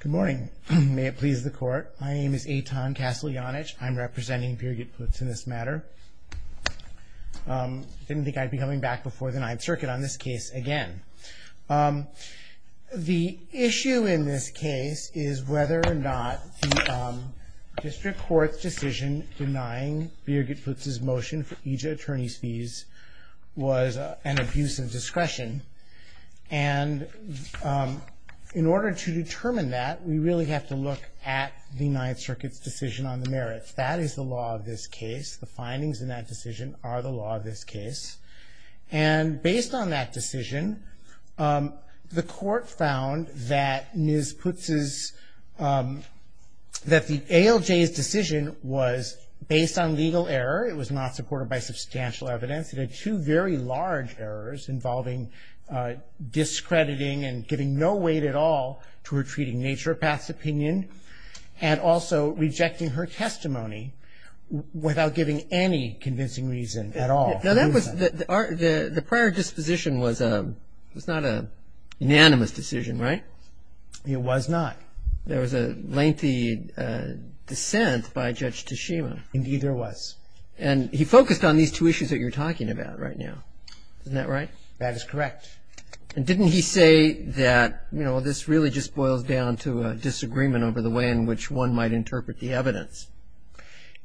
Good morning, may it please the court. My name is Eitan Kasteljanich. I'm representing Birgit Putz in this matter. I didn't think I'd be coming back before the Ninth Circuit on this case again. The issue in this case is whether or not District Court's decision denying Birgit Putz's motion for EJIA attorney's fees was an abuse of discretion. And in order to determine that, we really have to look at the Ninth Circuit's decision on the merits. That is the law of this case. The findings in that decision are the law of this case. And based on that decision, the court found that Ms. Putz's, that the ALJ's decision was based on legal error. It was not supported by substantial evidence. It had two very large errors involving discrediting and giving no weight at all to her treating Nature Path's opinion and also rejecting her testimony without giving any convincing reason at all. Now that was, the prior disposition was not an unanimous decision, right? It was not. There was a lengthy dissent by Judge Tashima. Indeed there was. And he focused on these two issues that you're talking about right now. Isn't that right? That is correct. And didn't he say that, you know, this really just boils down to a disagreement over the way in which one might interpret the evidence?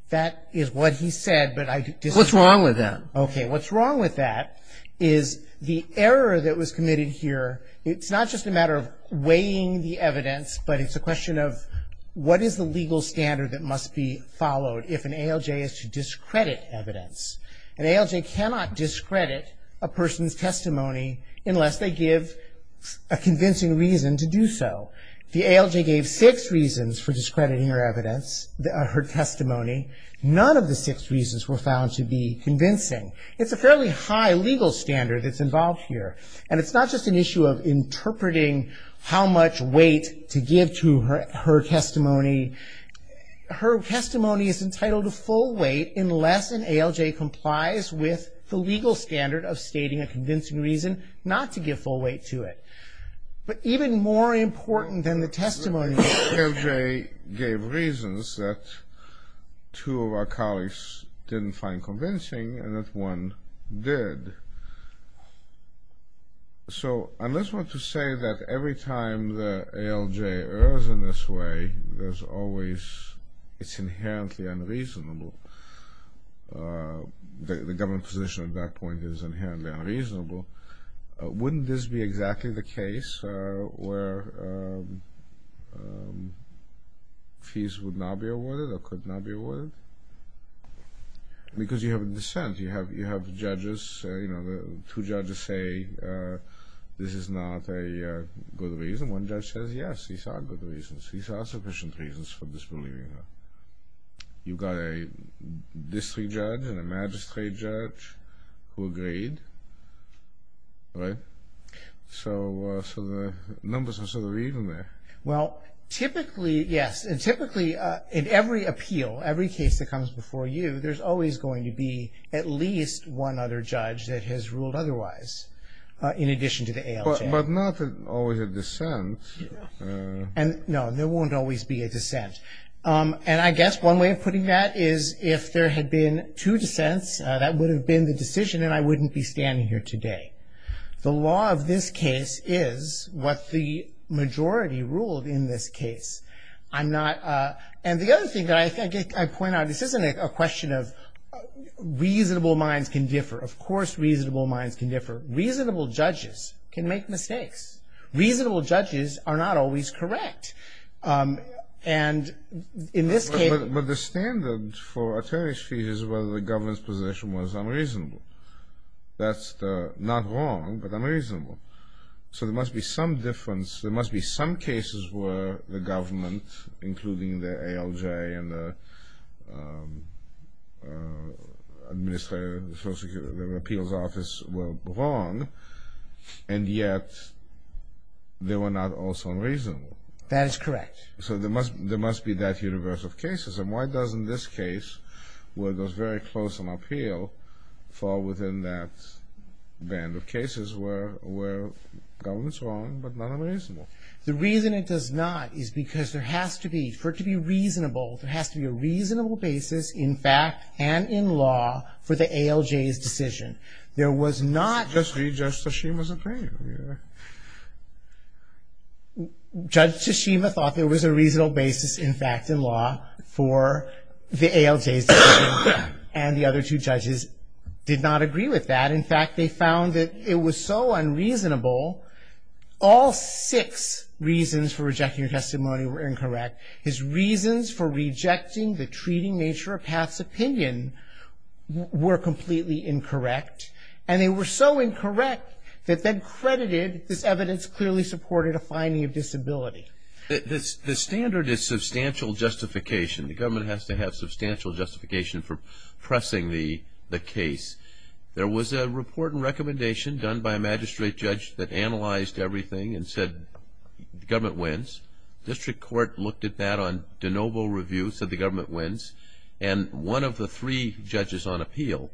That is what he said, but I disagree. What's wrong with that? Okay. What's wrong with that is the error that was committed here, it's not just a matter of weighing the evidence, but it's a question of what is the legal standard that must be followed if an ALJ is to discredit evidence. An ALJ cannot discredit a person's testimony unless they give a convincing reason to do so. The ALJ gave six reasons for discrediting her evidence, her testimony. None of the six reasons were found to be convincing. It's a fairly high legal standard that's involved here. And it's not just an issue of interpreting how much weight to give to her testimony. Her testimony is entitled to full weight unless an ALJ complies with the legal standard of stating a convincing reason not to give full weight to it. But even more important than the testimony that the ALJ gave reasons that two of our So, unless one could say that every time the ALJ errs in this way, there's always, it's inherently unreasonable, the government position at that point is inherently unreasonable, wouldn't this be exactly the case where fees would not be awarded or could not be awarded? Because you have a dissent, you have judges, two judges say this is not a good reason, one judge says yes, these are good reasons, these are sufficient reasons for disbelieving her. You've got a district judge and a magistrate judge who agreed, right? So the numbers are sort of even there. Well, typically, yes, and typically in every appeal, every case that comes before you, there's always going to be at least one other judge that has ruled otherwise in addition to the ALJ. But not always a dissent. No, there won't always be a dissent. And I guess one way of putting that is if there had been two dissents, that would have been the decision and I wouldn't be standing here today. The law of this case is what the majority ruled in this case. I'm not, and the other thing that I point out, this isn't a question of reasonable minds can differ. Of course, reasonable minds can differ. Reasonable judges can make mistakes. Reasonable judges are not always correct. And in this case. But the standard for attorney's fees is whether the government's position was unreasonable. That's not wrong, but unreasonable. So there must be some difference, there must be some cases where the government, including the ALJ and the Administrative Appeals Office were wrong, and yet they were not also unreasonable. That is correct. So there must be that universe of cases. And why doesn't this case, where it was very close on appeal, fall within that band of cases where the government's wrong but not unreasonable? The reason it does not is because there has to be, for it to be reasonable, there has to be a reasonable basis in fact and in law for the ALJ's decision. Just read Judge Tshishima's opinion. Judge Tshishima thought there was a reasonable basis in fact and law for the ALJ's decision. And the other two judges did not agree with that. In fact, they found that it was so unreasonable, all six reasons for rejecting the testimony were incorrect. His reasons for rejecting the treating nature of Pat's opinion were completely incorrect. And they were so incorrect that then credited, this evidence clearly supported a finding of disability. The standard is substantial justification. The government has to have substantial justification for pressing the case. There was a report and recommendation done by a magistrate judge that analyzed everything and said the government wins. District Court looked at that on de novo review, said the government wins. And one of the three judges on appeal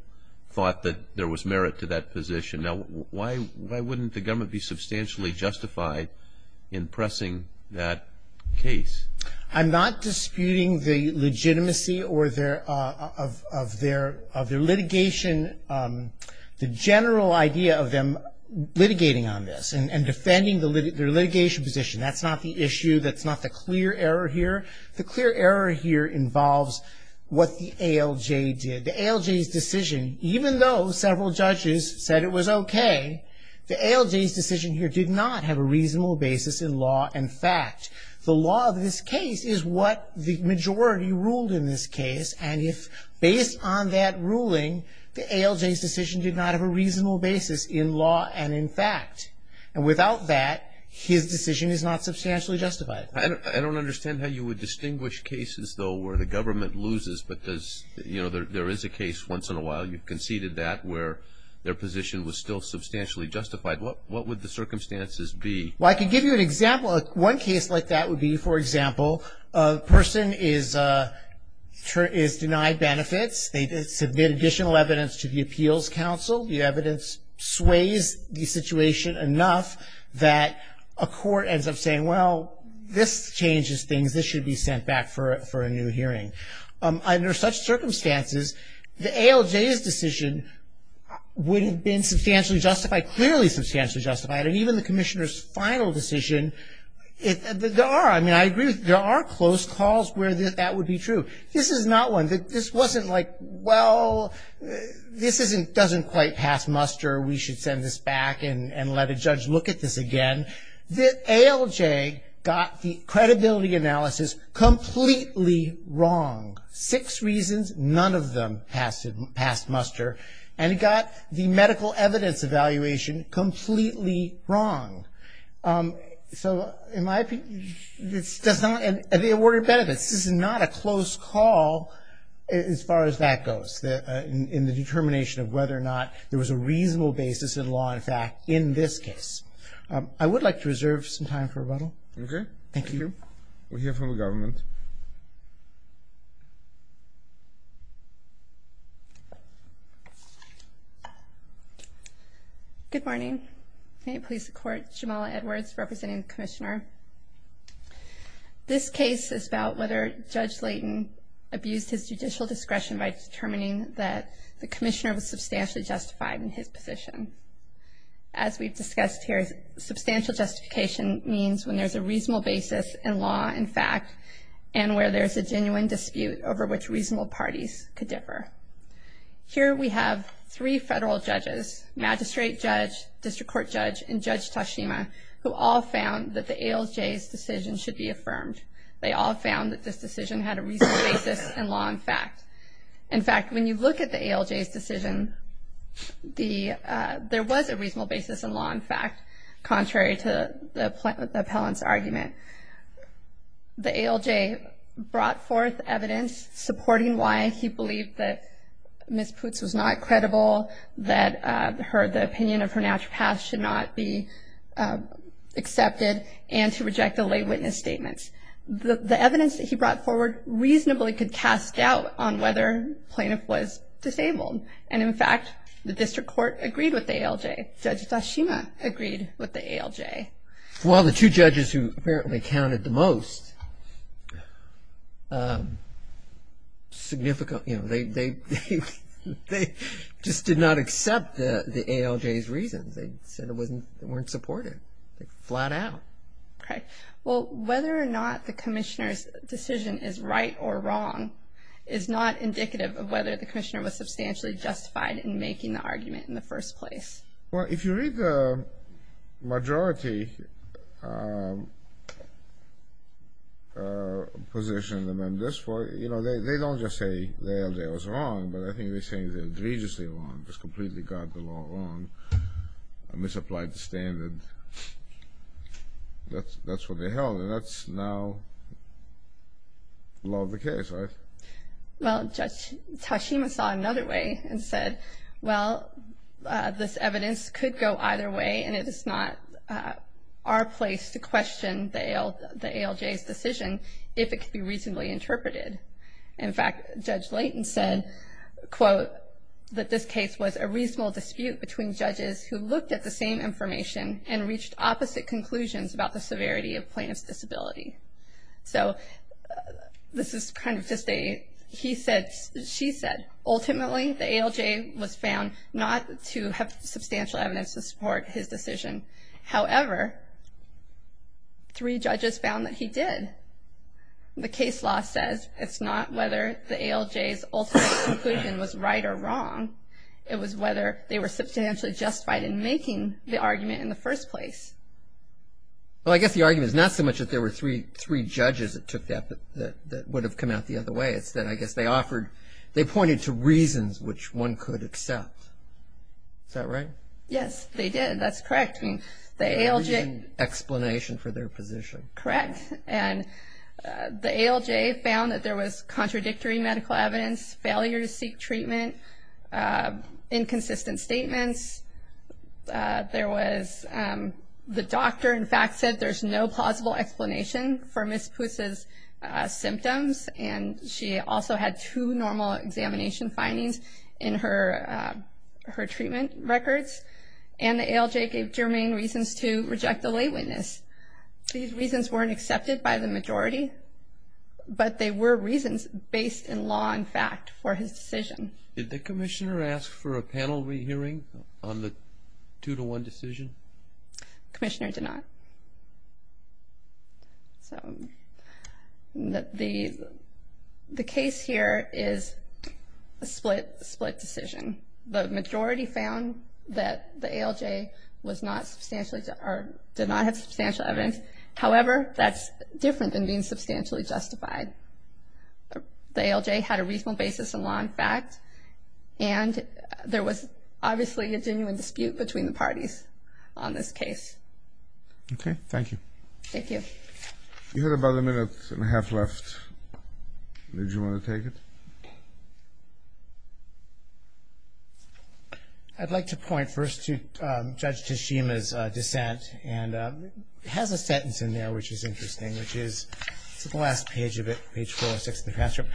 thought that there was merit to that position. Now, why wouldn't the government be substantially justified in pressing that case? I'm not disputing the legitimacy of their litigation, the general idea of them litigating on this and defending their litigation position. That's not the issue. That's not the clear error here. The clear error here involves what the ALJ did. The ALJ's decision, even though several judges said it was okay, the ALJ's decision here did not have a reasonable basis in law and fact. The law of this case is what the majority ruled in this case. And if based on that ruling, the ALJ's decision did not have a reasonable basis in law and in fact. And without that, his decision is not substantially justified. I don't understand how you would distinguish cases, though, where the government loses because, you know, there is a case once in a while you've conceded that where their position was still substantially justified. What would the circumstances be? Well, I can give you an example. One case like that would be, for example, a person is denied benefits. They submit additional evidence to the appeals counsel. The evidence sways the situation enough that a court ends up saying, well, this changes things, this should be sent back for a new hearing. Under such circumstances, the ALJ's decision would have been substantially justified, clearly substantially justified. And even the commissioner's final decision, there are, I mean, I agree, there are close calls where that would be true. This is not one. This wasn't like, well, this doesn't quite pass muster, we should send this back and let a judge look at this again. The ALJ got the credibility analysis completely wrong. Six reasons, none of them passed muster. And it got the medical evidence evaluation completely wrong. So, in my opinion, this does not, and they awarded benefits. This is not a close call as far as that goes, in the determination of whether or not there was a reasonable basis in law and fact in this case. I would like to reserve some time for rebuttal. Okay. Thank you. We'll hear from the government. Good morning. May it please the Court. Jamala Edwards, representing the commissioner. This case is about whether Judge Layton abused his judicial discretion by determining that the commissioner was substantially justified in his position. As we've discussed here, substantial justification means when there's a reasonable basis in law and fact, and where there's a genuine dispute over which reasonable parties could differ. Here we have three federal judges, magistrate judge, district court judge, and Judge Tashima, who all found that the ALJ's decision should be affirmed. They all found that this decision had a reasonable basis in law and fact. In fact, when you look at the ALJ's decision, there was a reasonable basis in law and fact, contrary to the appellant's argument. The ALJ brought forth evidence supporting why he believed that Ms. Putz was not credible, that the opinion of her naturopath should not be accepted, and to reject the lay witness statements. The evidence that he brought forward reasonably could cast doubt on whether the plaintiff was disabled. And in fact, the district court agreed with the ALJ. Judge Tashima agreed with the ALJ. Well, the two judges who apparently counted the most significant, they just did not accept the ALJ's reasons. They said they weren't supportive, flat out. Okay. Well, whether or not the commissioner's decision is right or wrong is not indicative of whether the commissioner was substantially justified in making the argument in the first place. Well, if you read the majority position, they don't just say the ALJ was wrong, but I think they're saying they're egregiously wrong, just completely got the law wrong, misapplied the standard. That's what they held, and that's now the law of the case, right? Well, Judge Tashima saw another way and said, well, this evidence could go either way, and it is not our place to question the ALJ's decision if it could be reasonably interpreted. In fact, Judge Layton said, quote, that this case was a reasonable dispute between judges who looked at the same information and reached opposite conclusions about the severity of plaintiff's disability. So this is kind of just a, he said, she said, ultimately, the ALJ was found not to have substantial evidence to support his decision. However, three judges found that he did. The case law says it's not whether the ALJ's ultimate conclusion was right or wrong. It was whether they were substantially justified in making the argument in the first place. Well, I guess the argument is not so much that there were three judges that took that, but that would have come out the other way. It's that, I guess, they offered, they pointed to reasons which one could accept. Is that right? Yes, they did. That's correct. I mean, the ALJ... The original explanation for their position. Correct. And the ALJ found that there was contradictory medical evidence, failure to seek treatment, inconsistent statements, there was, the doctor, in fact, said there's no plausible explanation for Ms. Puce's symptoms. And she also had two normal examination findings in her treatment records. And the ALJ gave germane reasons to reject the lay witness. These reasons weren't accepted by the majority, but they were reasons based in law and fact for his decision. Did the commissioner ask for a panel re-hearing on the two-to-one decision? Commissioner did not. The case here is a split decision. The majority found that the ALJ was not substantially, or did not have substantial evidence. However, that's different than being substantially justified. The ALJ had a reasonable basis in law and fact, and there was obviously a genuine dispute between the parties on this case. Okay, thank you. Thank you. You had about a minute and a half left. Did you want to take it? I'd like to point first to Judge Tashima's dissent, and it has a sentence in there which is interesting, it's at the last page of it, page 4 or 6 of the transcript.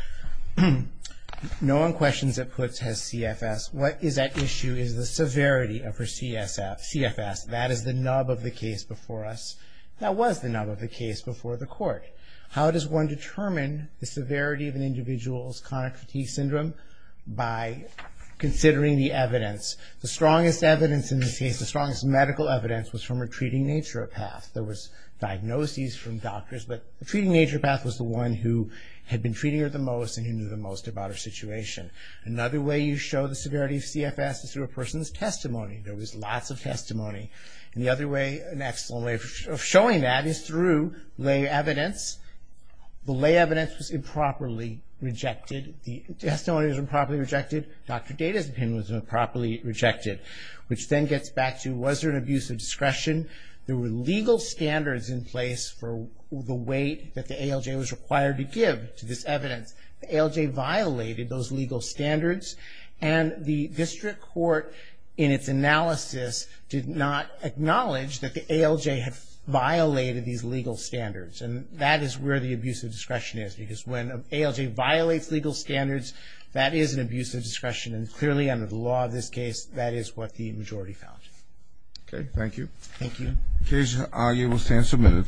No one questions that Putz has CFS. What is at issue is the severity of her CFS. That is the nub of the case before us. That was the nub of the case before the court. How does one determine the severity of an individual's chronic fatigue syndrome? By considering the evidence. The strongest evidence in this case, the strongest medical evidence, was from a treating naturopath. There was diagnoses from doctors, but the treating naturopath was the one who had been treating her the most and who knew the most about her situation. Another way you show the severity of CFS is through a person's testimony. There was lots of testimony. An excellent way of showing that is through lay evidence. The lay evidence was improperly rejected. The testimony was improperly rejected. Dr. Data's opinion was improperly rejected. Which then gets back to, was there an abuse of discretion? There were legal standards in place for the weight that the ALJ was required to give to this evidence. The ALJ violated those legal standards. And the district court, in its analysis, did not acknowledge that the ALJ had violated these legal standards. And that is where the abuse of discretion is. Because when an ALJ violates legal standards, that is an abuse of discretion. And clearly, under the law of this case, that is what the majority found. Okay, thank you. Thank you. In case, you will stand submitted.